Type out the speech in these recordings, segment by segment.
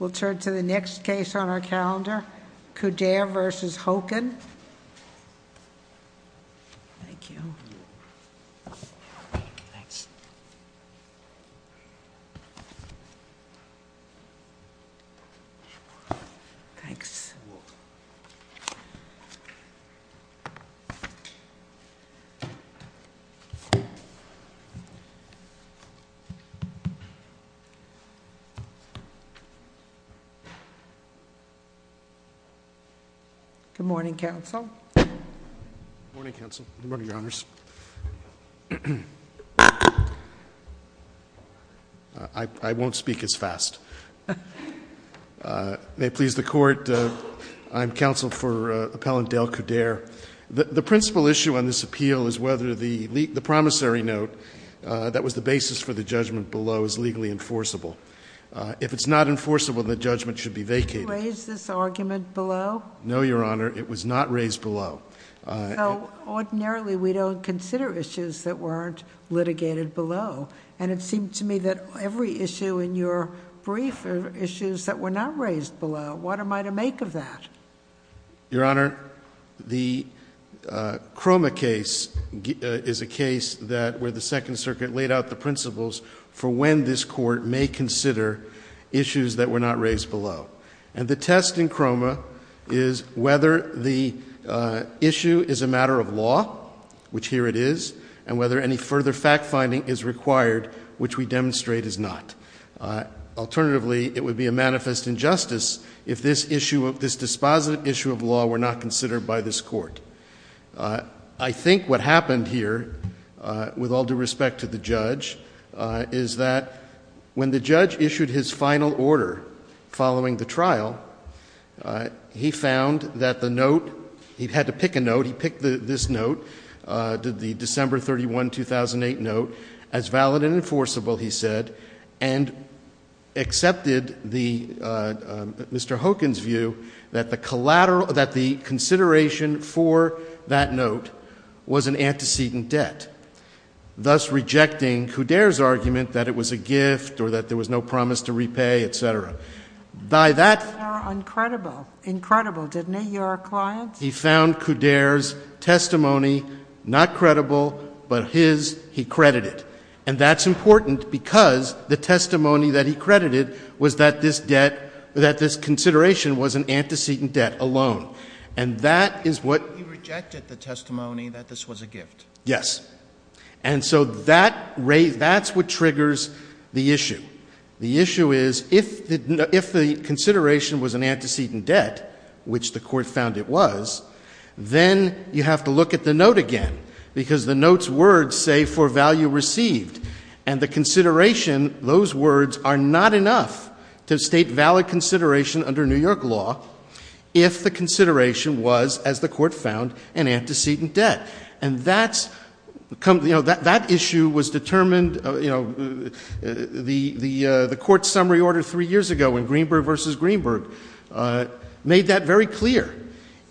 We'll turn to the next case on our calendar, Coudert v. Hokin. Good morning, counsel. Good morning, counsel. Good morning, your honors. I won't speak as fast. May it please the court, I'm counsel for appellant Dale Coudert. The principal issue on this appeal is whether the promissory note that was the basis for the judgment below is legally enforceable. If it's not enforceable, the judgment should be vacated. Did you raise this argument below? No, your honor, it was not raised below. So, ordinarily, we don't consider issues that weren't litigated below. And it seemed to me that every issue in your brief are issues that were not raised below. What am I to make of that? Your honor, the Croma case is a case where the Second Circuit laid out the principles for when this court may consider issues that were not raised below. And the test in Croma is whether the issue is a matter of law, which here it is, and whether any further fact-finding is required, which we demonstrate is not. Alternatively, it would be a manifest injustice if this issue, this dispositive issue of law were not considered by this court. I think what happened here, with all due respect to the judge, is that when the judge issued his final order following the trial, he found that the note, he had to pick a note, he picked this note, the December 31, 2008 note, as valid and enforceable, he said, and accepted Mr. Hogan's view that the consideration for that note was an antecedent debt, thus rejecting Coudere's argument that it was a gift or that there was no promise to repay, et cetera. They were incredible, incredible, didn't they, your clients? He found Coudere's testimony not credible, but his, he credited. And that's important because the testimony that he credited was that this debt, that this consideration was an antecedent debt alone. And that is what he rejected the testimony that this was a gift. Yes. And so that's what triggers the issue. The issue is if the consideration was an antecedent debt, which the court found it was, then you have to look at the note again because the note's words say for value received. And the consideration, those words are not enough to state valid consideration under New York law if the consideration was, as the court found, an antecedent debt. And that's, you know, that issue was determined, you know, the court's summary order three years ago in Greenberg v. Greenberg made that very clear.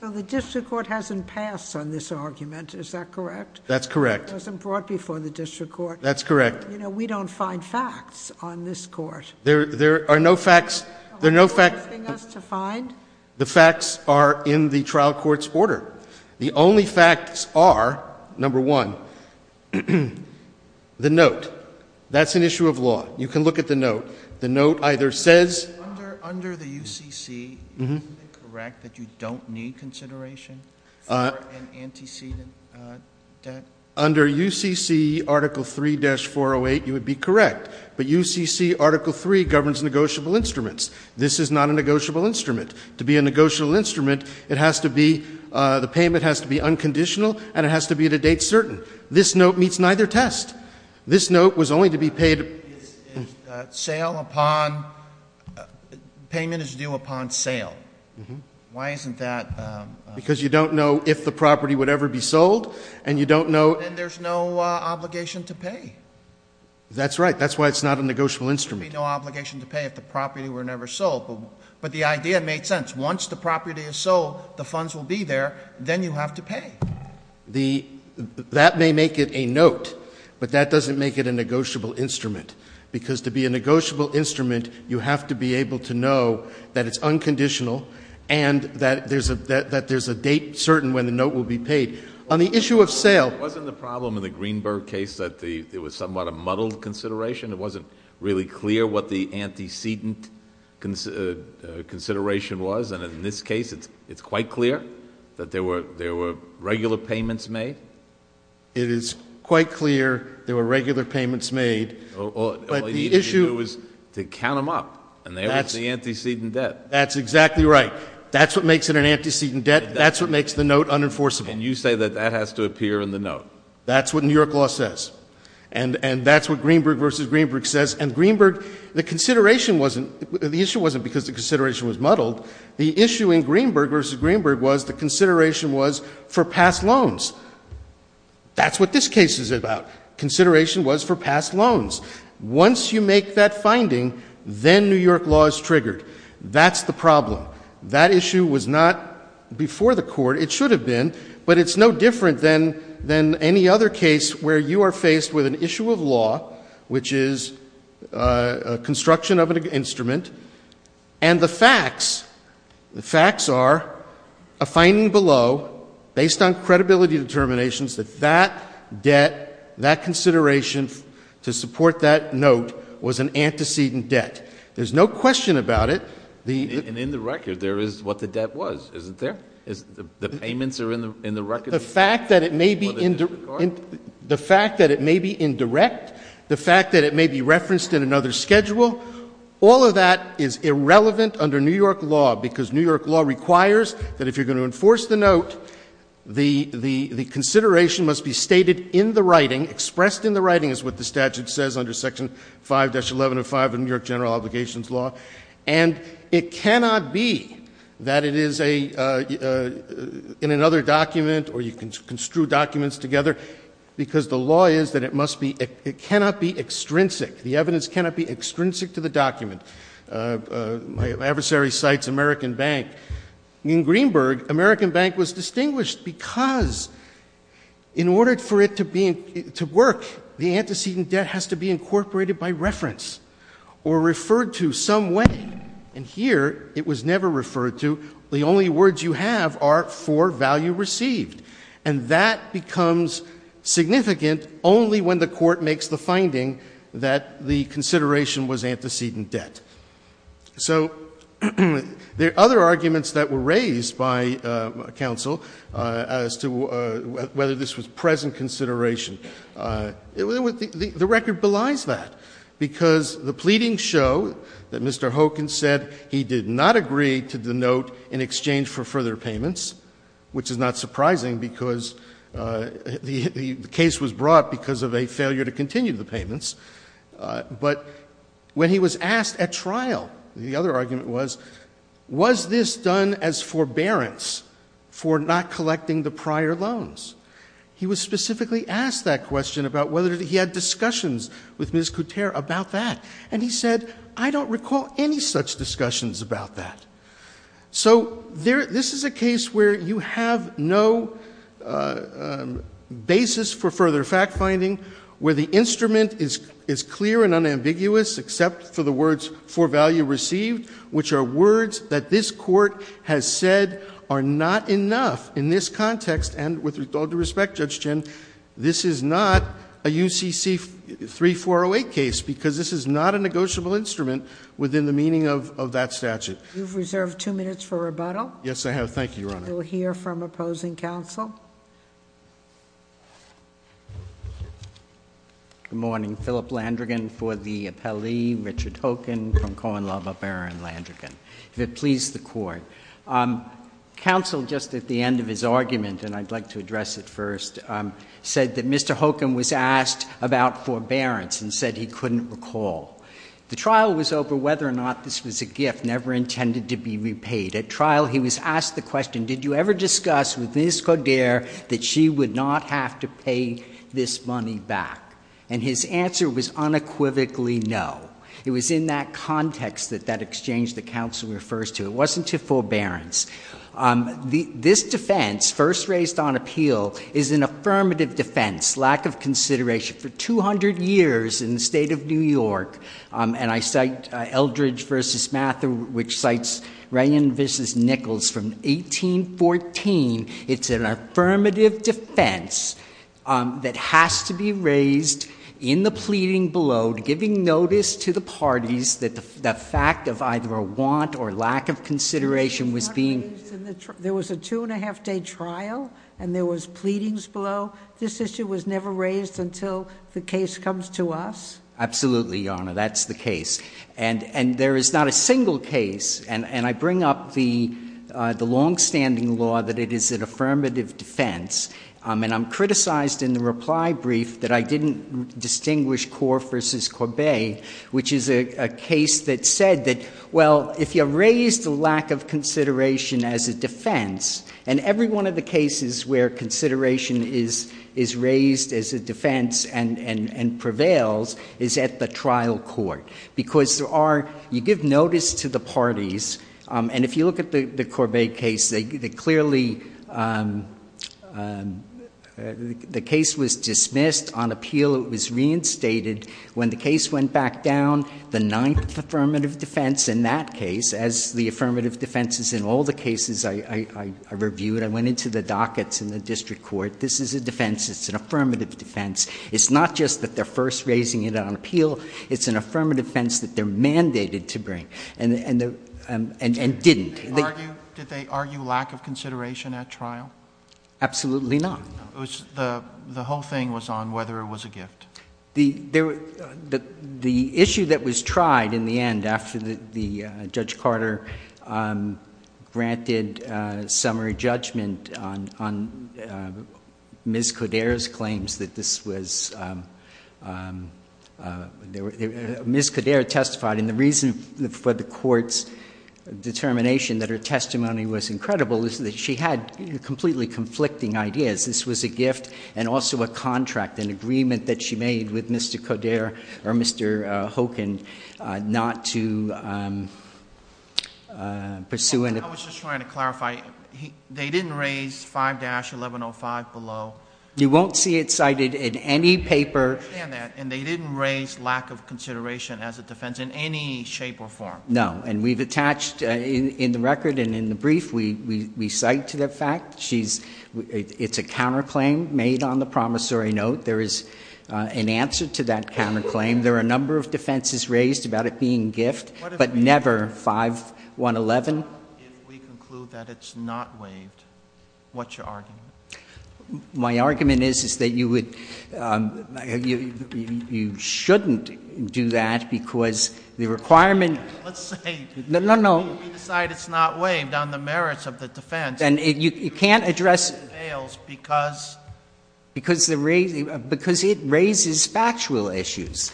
Well, the district court hasn't passed on this argument. Is that correct? That's correct. It wasn't brought before the district court. That's correct. You know, we don't find facts on this court. There are no facts, there are no facts. Are you asking us to find? The facts are in the trial court's order. The only facts are, number one, the note. That's an issue of law. You can look at the note. The note either says — Under the UCC, isn't it correct that you don't need consideration for an antecedent debt? Under UCC Article 3-408, you would be correct. But UCC Article 3 governs negotiable instruments. This is not a negotiable instrument. To be a negotiable instrument, it has to be — the payment has to be unconditional and it has to be at a date certain. This note meets neither test. This note was only to be paid — It's sale upon — payment is due upon sale. Mm-hmm. Why isn't that — Because you don't know if the property would ever be sold, and you don't know — And there's no obligation to pay. That's right. That's why it's not a negotiable instrument. There would be no obligation to pay if the property were never sold. But the idea made sense. Once the property is sold, the funds will be there, then you have to pay. The — that may make it a note, but that doesn't make it a negotiable instrument. Because to be a negotiable instrument, you have to be able to know that it's unconditional and that there's a date certain when the note will be paid. On the issue of sale — Wasn't the problem in the Greenberg case that it was somewhat a muddled consideration? It wasn't really clear what the antecedent consideration was? And in this case, it's quite clear that there were regular payments made? It is quite clear there were regular payments made, but the issue — All you needed to do was to count them up, and there was the antecedent debt. That's exactly right. That's what makes it an antecedent debt. That's what makes the note unenforceable. And you say that that has to appear in the note. That's what New York law says. And that's what Greenberg v. Greenberg says. And Greenberg — the consideration wasn't — the issue wasn't because the consideration was muddled. The issue in Greenberg v. Greenberg was the consideration was for past loans. That's what this case is about. Consideration was for past loans. Once you make that finding, then New York law is triggered. That's the problem. That issue was not before the Court. It should have been. But it's no different than any other case where you are faced with an issue of law, which is a construction of an instrument, and the facts are a finding below based on credibility determinations that that debt, that consideration to support that note was an antecedent debt. There's no question about it. And in the record, there is what the debt was, isn't there? The payments are in the record? The fact that it may be indirect, the fact that it may be referenced in another schedule, all of that is irrelevant under New York law because New York law requires that if you're going to enforce the note, the consideration must be stated in the writing, expressed in the writing, is what the statute says under Section 5-1105 of New York General Obligations Law. And it cannot be that it is in another document or you can construe documents together because the law is that it must be, it cannot be extrinsic, the evidence cannot be extrinsic to the document. My adversary cites American Bank. In Greenberg, American Bank was distinguished because in order for it to work, the antecedent debt has to be incorporated by reference or referred to some way. And here it was never referred to. The only words you have are for value received. And that becomes significant only when the court makes the finding that the consideration was antecedent debt. So there are other arguments that were raised by counsel as to whether this was present consideration. The record belies that. Because the pleadings show that Mr. Hogan said he did not agree to the note in exchange for further payments, which is not surprising because the case was brought because of a failure to continue the payments. But when he was asked at trial, the other argument was, was this done as forbearance for not collecting the prior loans? He was specifically asked that question about whether he had discussions with Ms. Couture about that. And he said, I don't recall any such discussions about that. So this is a case where you have no basis for further fact-finding, where the instrument is clear and unambiguous except for the words for value received, which are words that this court has said are not enough in this context. And with all due respect, Judge Chin, this is not a UCC 3408 case because this is not a negotiable instrument within the meaning of that statute. You've reserved two minutes for rebuttal. Yes, I have. Thank you, Your Honor. We'll hear from opposing counsel. Good morning. I'm Philip Landrigan for the appellee, Richard Hocken, from Cohen, Lavabier, and Landrigan. If it please the Court, counsel, just at the end of his argument, and I'd like to address it first, said that Mr. Hocken was asked about forbearance and said he couldn't recall. The trial was over whether or not this was a gift never intended to be repaid. At trial, he was asked the question, did you ever discuss with Ms. Couture that she would not have to pay this money back? And his answer was unequivocally no. It was in that context that that exchange the counsel refers to. It wasn't to forbearance. This defense, first raised on appeal, is an affirmative defense, lack of consideration for 200 years in the state of New York. And I cite Eldridge v. Mather, which cites Ryan v. Nichols from 1814. It's an affirmative defense that has to be raised in the pleading below, giving notice to the parties that the fact of either a want or lack of consideration was being— It was not raised in the trial. There was a two-and-a-half-day trial, and there was pleadings below. This issue was never raised until the case comes to us? Absolutely, Your Honor. That's the case. And there is not a single case. And I bring up the longstanding law that it is an affirmative defense. And I'm criticized in the reply brief that I didn't distinguish Core v. Corbet, which is a case that said that, well, if you raise the lack of consideration as a defense—and every one of the cases where consideration is raised as a defense and prevails is at the trial court. Because you give notice to the parties. And if you look at the Corbet case, the case was dismissed. On appeal, it was reinstated. When the case went back down, the ninth affirmative defense in that case, as the affirmative defenses in all the cases I reviewed—I went into the dockets in the district court—this is a defense. It's an affirmative defense. It's not just that they're first raising it on appeal. It's an affirmative defense that they're mandated to bring and didn't. Did they argue lack of consideration at trial? Absolutely not. The whole thing was on whether it was a gift. The issue that was tried in the end after Judge Carter granted summary judgment on Ms. Coderre testified—and the reason for the Court's determination that her testimony was incredible is that she had completely conflicting ideas. This was a gift and also a contract, an agreement that she made with Mr. Coderre or Mr. Hogan not to pursue an— I was just trying to clarify. They didn't raise 5-1105 below. You won't see it cited in any paper. I understand that. And they didn't raise lack of consideration as a defense in any shape or form. No. And we've attached in the record and in the brief, we cite the fact. It's a counterclaim made on the promissory note. There is an answer to that counterclaim. There are a number of defenses raised about it being gift, but never 5-111. If we conclude that it's not waived, what's your argument? My argument is, is that you would—you shouldn't do that because the requirement— Let's say— No, no, no. If we decide it's not waived on the merits of the defense— Then you can't address— It fails because— Because it raises factual issues.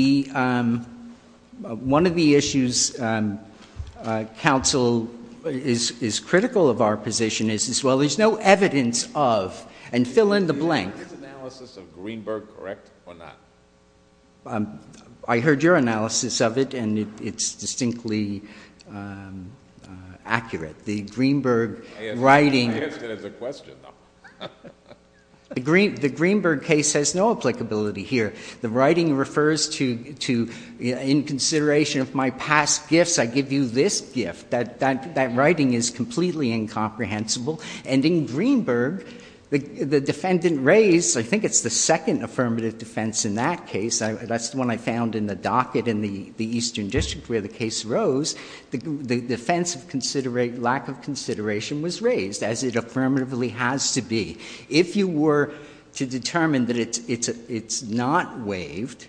One of the issues counsel is critical of our position is, well, there's no evidence of, and fill in the blank— Is the analysis of Greenberg correct or not? I heard your analysis of it, and it's distinctly accurate. The Greenberg writing— I asked it as a question, though. The Greenberg case has no applicability here. The writing refers to, in consideration of my past gifts, I give you this gift. That writing is completely incomprehensible. And in Greenberg, the defendant raised—I think it's the second affirmative defense in that case. That's the one I found in the docket in the Eastern District where the case rose. The defense of lack of consideration was raised, as it affirmatively has to be. If you were to determine that it's not waived,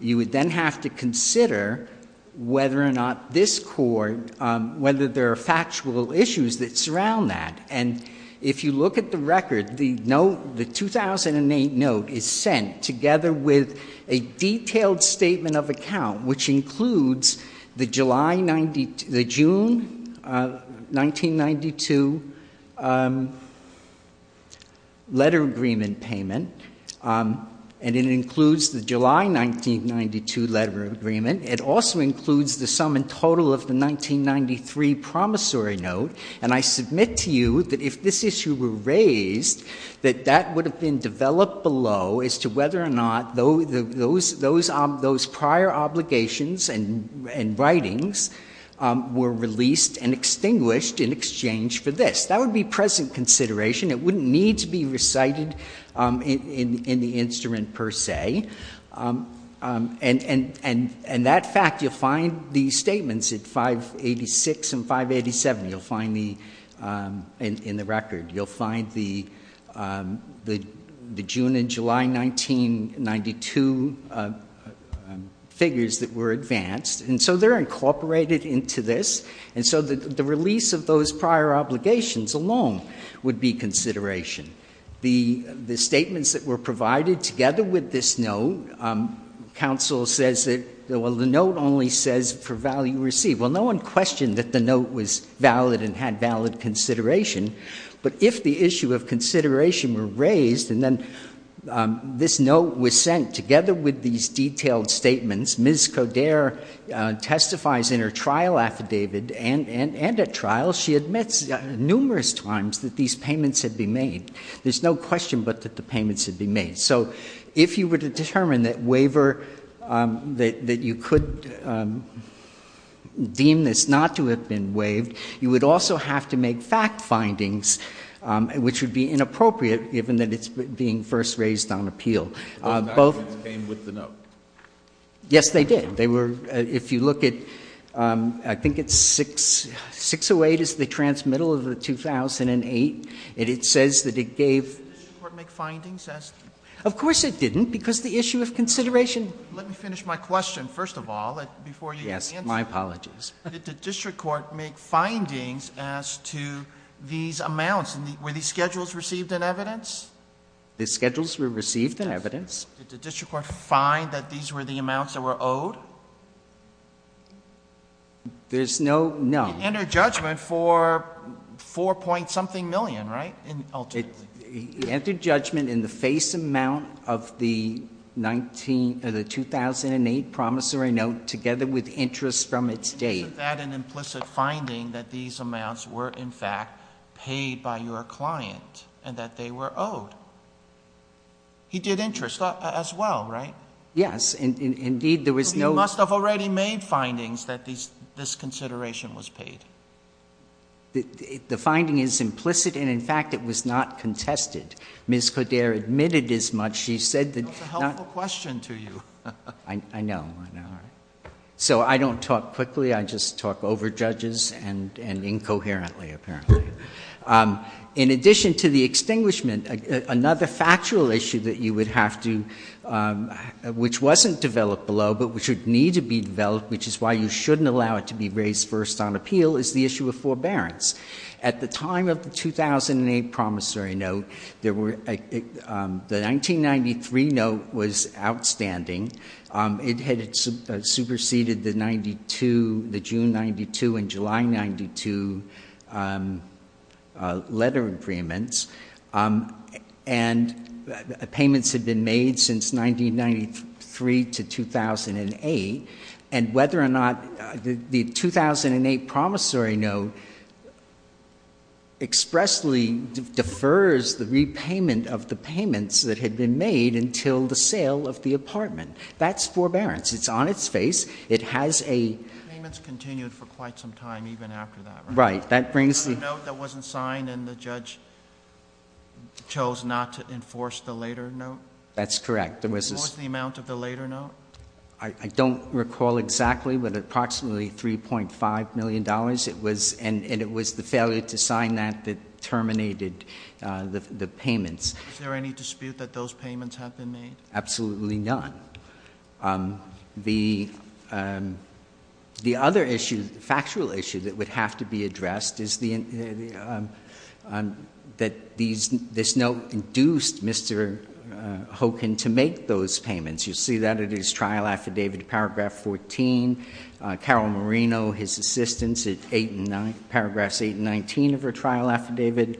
you would then have to consider whether or not this Court— whether there are factual issues that surround that. And if you look at the record, the 2008 note is sent together with a detailed statement of account, which includes the June 1992 letter agreement payment, and it includes the July 1992 letter agreement. It also includes the sum in total of the 1993 promissory note. And I submit to you that if this issue were raised, that that would have been developed below as to whether or not those prior obligations and writings were released and extinguished in exchange for this. That would be present consideration. It wouldn't need to be recited in the instrument, per se. And that fact, you'll find the statements at 586 and 587. You'll find the—in the record. You'll find the June and July 1992 figures that were advanced. And so they're incorporated into this. And so the release of those prior obligations alone would be consideration. The statements that were provided together with this note, counsel says that, well, the note only says for value received. Well, no one questioned that the note was valid and had valid consideration. But if the issue of consideration were raised and then this note was sent together with these detailed statements, Ms. Coderre testifies in her trial affidavit and at trial, she admits numerous times that these payments had been made. There's no question but that the payments had been made. So if you were to determine that waiver, that you could deem this not to have been waived, you would also have to make fact findings, which would be inappropriate given that it's being first raised on appeal. Both documents came with the note? Yes, they did. They were—if you look at, I think it's 608 is the transmittal of the 2008, and it says that it gave— Did the district court make findings as— Of course it didn't, because the issue of consideration— Let me finish my question, first of all, before you answer. Yes, my apologies. Did the district court make findings as to these amounts? Were these schedules received in evidence? The schedules were received in evidence. Did the district court find that these were the amounts that were owed? There's no—no. It entered judgment for $4.something million, right, ultimately? It entered judgment in the face amount of the 2008 promissory note together with interest from its date. Is that an implicit finding that these amounts were, in fact, paid by your client and that they were owed? He did interest as well, right? Yes. Indeed, there was no— He must have already made findings that this consideration was paid. The finding is implicit, and, in fact, it was not contested. Ms. Coderre admitted as much. She said that— That's a helpful question to you. I know, I know. So I don't talk quickly. I just talk over judges and incoherently, apparently. In addition to the extinguishment, another factual issue that you would have to— which wasn't developed below but which would need to be developed, which is why you shouldn't allow it to be raised first on appeal, is the issue of forbearance. At the time of the 2008 promissory note, the 1993 note was outstanding. It had superseded the June 92 and July 92 letter agreements, and payments had been made since 1993 to 2008. And whether or not the 2008 promissory note expressly defers the repayment of the payments that had been made until the sale of the apartment, that's forbearance. It's on its face. It has a— Payments continued for quite some time even after that, right? Right. That brings the— There was a note that wasn't signed, and the judge chose not to enforce the later note? That's correct. There was this— I don't recall exactly, but approximately $3.5 million, and it was the failure to sign that that terminated the payments. Is there any dispute that those payments have been made? Absolutely not. The other issue, the factual issue that would have to be addressed, is that this note induced Mr. Hoken to make those payments. You see that in his trial affidavit, Paragraph 14. Carol Marino, his assistant, in Paragraphs 8 and 19 of her trial affidavit.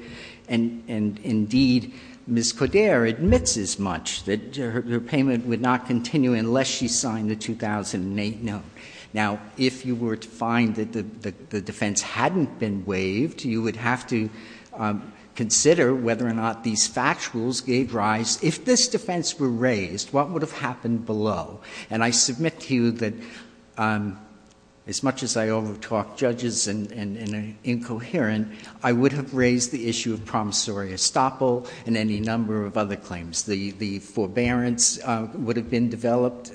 And, indeed, Ms. Coderre admits as much, that her payment would not continue unless she signed the 2008 note. Now, if you were to find that the defense hadn't been waived, you would have to consider whether or not these factuals gave rise. If this defense were raised, what would have happened below? And I submit to you that, as much as I over-talk judges and are incoherent, I would have raised the issue of promissory estoppel and any number of other claims. The forbearance issue would have been developed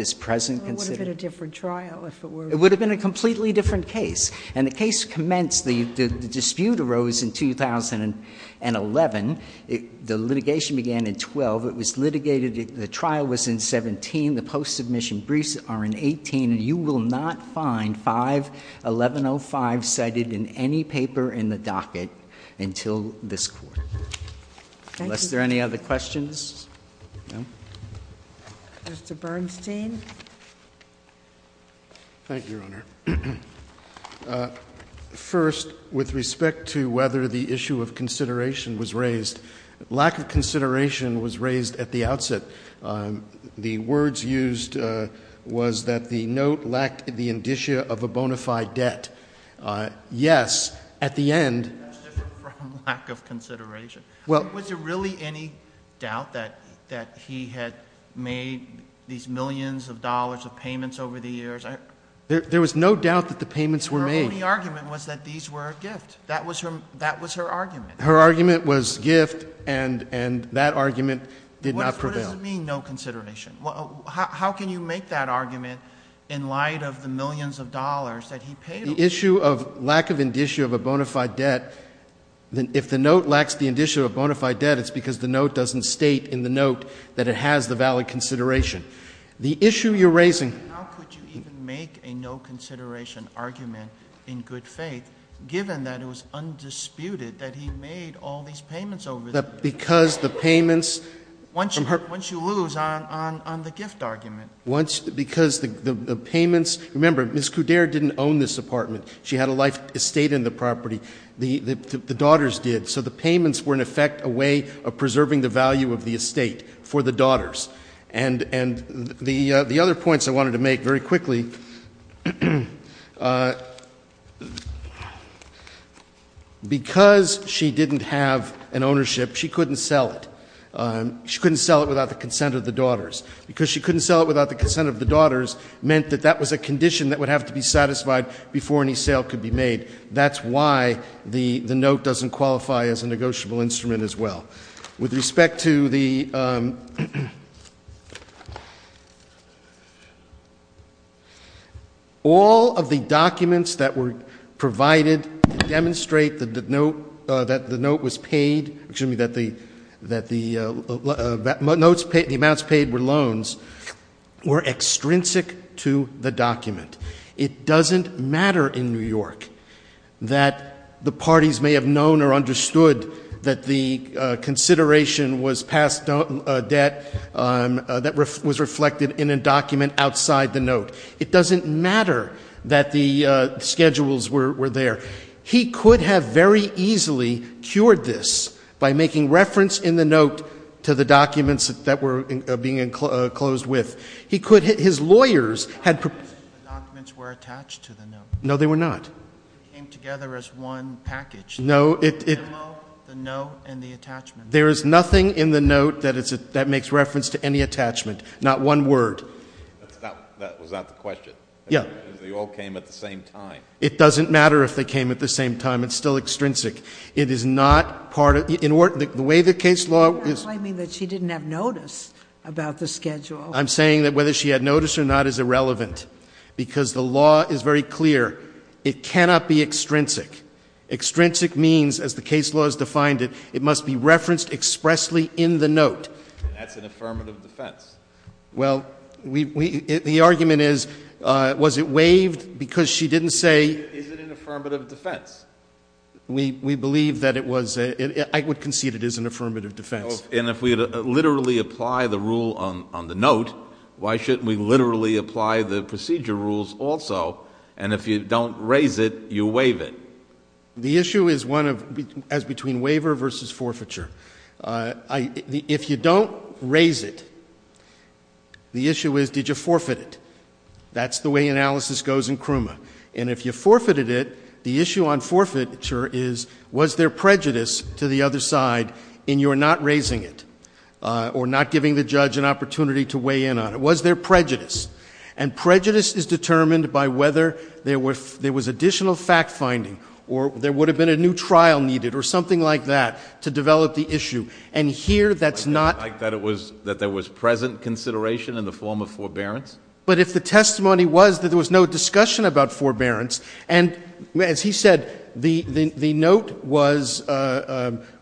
as present— It would have been a different trial, if it were— It would have been a completely different case. And the case commenced—the dispute arose in 2011. The litigation began in 2012. It was litigated—the trial was in 2017. The post-submission briefs are in 2018. And you will not find 51105 cited in any paper in the docket until this court. Thank you. Unless there are any other questions? Mr. Bernstein? Thank you, Your Honor. First, with respect to whether the issue of consideration was raised, lack of consideration was raised at the outset. The words used was that the note lacked the indicia of a bona fide debt. Yes, at the end— That's different from lack of consideration. Was there really any doubt that he had made these millions of dollars of payments over the years? There was no doubt that the payments were made. Her only argument was that these were a gift. That was her argument. Her argument was gift, and that argument did not prevail. What does it mean, no consideration? How can you make that argument in light of the millions of dollars that he paid? The issue of lack of indicia of a bona fide debt, if the note lacks the indicia of a bona fide debt, it's because the note doesn't state in the note that it has the valid consideration. The issue you're raising— How could you even make a no consideration argument in good faith, given that it was undisputed that he made all these payments over the years? Because the payments— Once you lose on the gift argument. Because the payments—remember, Ms. Couder didn't own this apartment. She had a life estate in the property. The daughters did. So the payments were, in effect, a way of preserving the value of the estate for the daughters. And the other points I wanted to make very quickly, because she didn't have an ownership, she couldn't sell it. She couldn't sell it without the consent of the daughters. Because she couldn't sell it without the consent of the daughters meant that that was a condition that would have to be satisfied before any sale could be made. That's why the note doesn't qualify as a negotiable instrument as well. With respect to the— All of the documents that were provided to demonstrate that the note was paid— excuse me, that the amounts paid were loans— were extrinsic to the document. It doesn't matter in New York that the parties may have known or understood that the consideration was past debt that was reflected in a document outside the note. It doesn't matter that the schedules were there. He could have very easily cured this by making reference in the note to the documents that were being enclosed with. He could—his lawyers had— The documents were attached to the note. No, they were not. They came together as one package. No, it— The memo, the note, and the attachment. There is nothing in the note that makes reference to any attachment, not one word. Was that the question? Yes. They all came at the same time. It doesn't matter if they came at the same time. It's still extrinsic. It is not part of—the way the case law is— You're not claiming that she didn't have notice about the schedule. I'm saying that whether she had notice or not is irrelevant, because the law is very clear. It cannot be extrinsic. Extrinsic means, as the case law has defined it, it must be referenced expressly in the note. That's an affirmative defense. Well, the argument is, was it waived because she didn't say— Is it an affirmative defense? We believe that it was—I would concede it is an affirmative defense. And if we literally apply the rule on the note, why shouldn't we literally apply the procedure rules also? And if you don't raise it, you waive it. The issue is one of—as between waiver versus forfeiture. If you don't raise it, the issue is, did you forfeit it? That's the way analysis goes in CRUMA. And if you forfeited it, the issue on forfeiture is, was there prejudice to the other side in your not raising it or not giving the judge an opportunity to weigh in on it? Was there prejudice? And prejudice is determined by whether there was additional fact-finding or there would have been a new trial needed or something like that to develop the issue. And here that's not— Like that it was—that there was present consideration in the form of forbearance? But if the testimony was that there was no discussion about forbearance, and as he said, the note was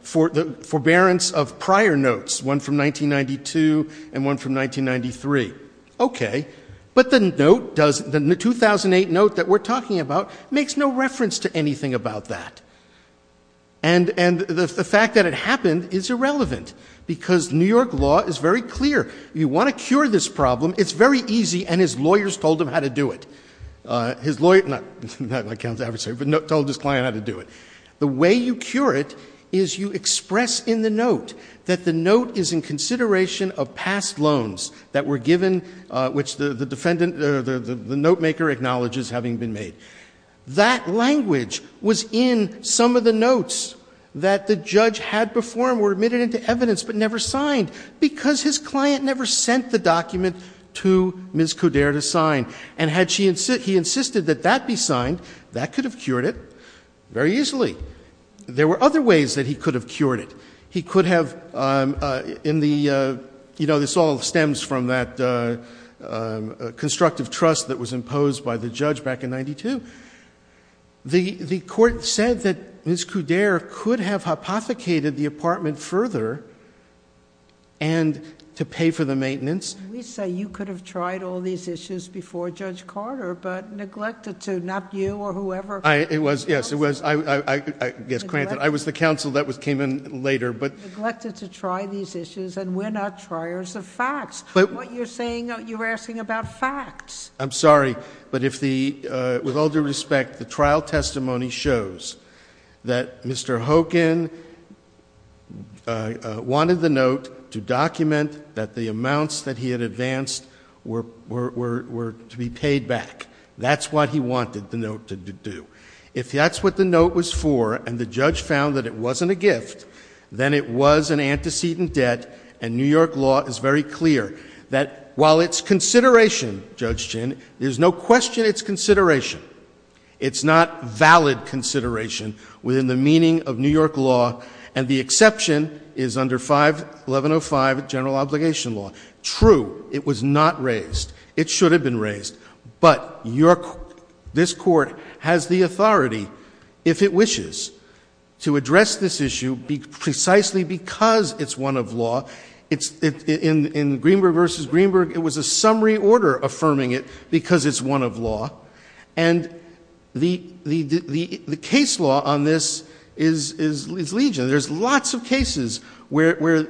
forbearance of prior notes, one from 1992 and one from 1993. Okay. But the note does—the 2008 note that we're talking about makes no reference to anything about that. And the fact that it happened is irrelevant because New York law is very clear. You want to cure this problem. It's very easy, and his lawyers told him how to do it. His lawyer—not my counsel, but told his client how to do it. The way you cure it is you express in the note that the note is in consideration of past loans that were given, which the defendant—the notemaker acknowledges having been made. That language was in some of the notes that the judge had before and were admitted into evidence but never signed because his client never sent the document to Ms. Coderre to sign. And had she—he insisted that that be signed, that could have cured it very easily. There were other ways that he could have cured it. He could have in the—you know, this all stems from that constructive trust that was imposed by the judge back in 1992. The court said that Ms. Coderre could have hypothecated the apartment further and to pay for the maintenance. We say you could have tried all these issues before Judge Carter, but neglected to, not you or whoever. It was—yes, it was. I guess, granted, I was the counsel that came in later, but— Neglected to try these issues, and we're not triers of facts. What you're saying—you're asking about facts. I'm sorry, but if the—with all due respect, the trial testimony shows that Mr. Hogan wanted the note to document that the amounts that he had advanced were to be paid back. That's what he wanted the note to do. If that's what the note was for, and the judge found that it wasn't a gift, then it was an antecedent debt, and New York law is very clear that while it's consideration, Judge Ginn, there's no question it's consideration. It's not valid consideration within the meaning of New York law, and the exception is under 51105, general obligation law. True, it was not raised. It should have been raised, but this Court has the authority, if it wishes, to address this issue precisely because it's one of law. In Greenberg v. Greenberg, it was a summary order affirming it because it's one of law, and the case law on this is legion. There's lots of cases where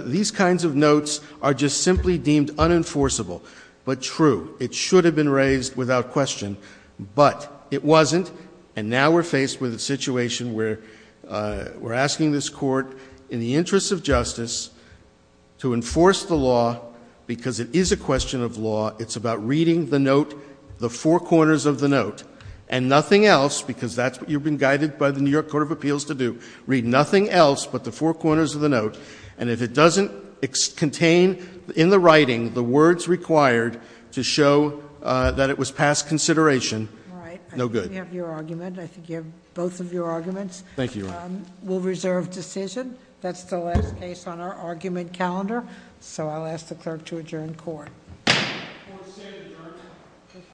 these kinds of notes are just simply deemed unenforceable. But true, it should have been raised without question, but it wasn't, and now we're faced with a situation where we're asking this Court, in the interest of justice, to enforce the law because it is a question of law. It's about reading the note, the four corners of the note, and nothing else, because that's what you've been guided by the New York Court of Appeals to do, read nothing else but the four corners of the note, and if it doesn't contain in the writing the words required to show that it was past consideration, no good. All right, I think we have your argument. I think you have both of your arguments. Thank you, Your Honor. We'll reserve decision. That's the last case on our argument calendar, so I'll ask the clerk to adjourn court. Court is adjourned.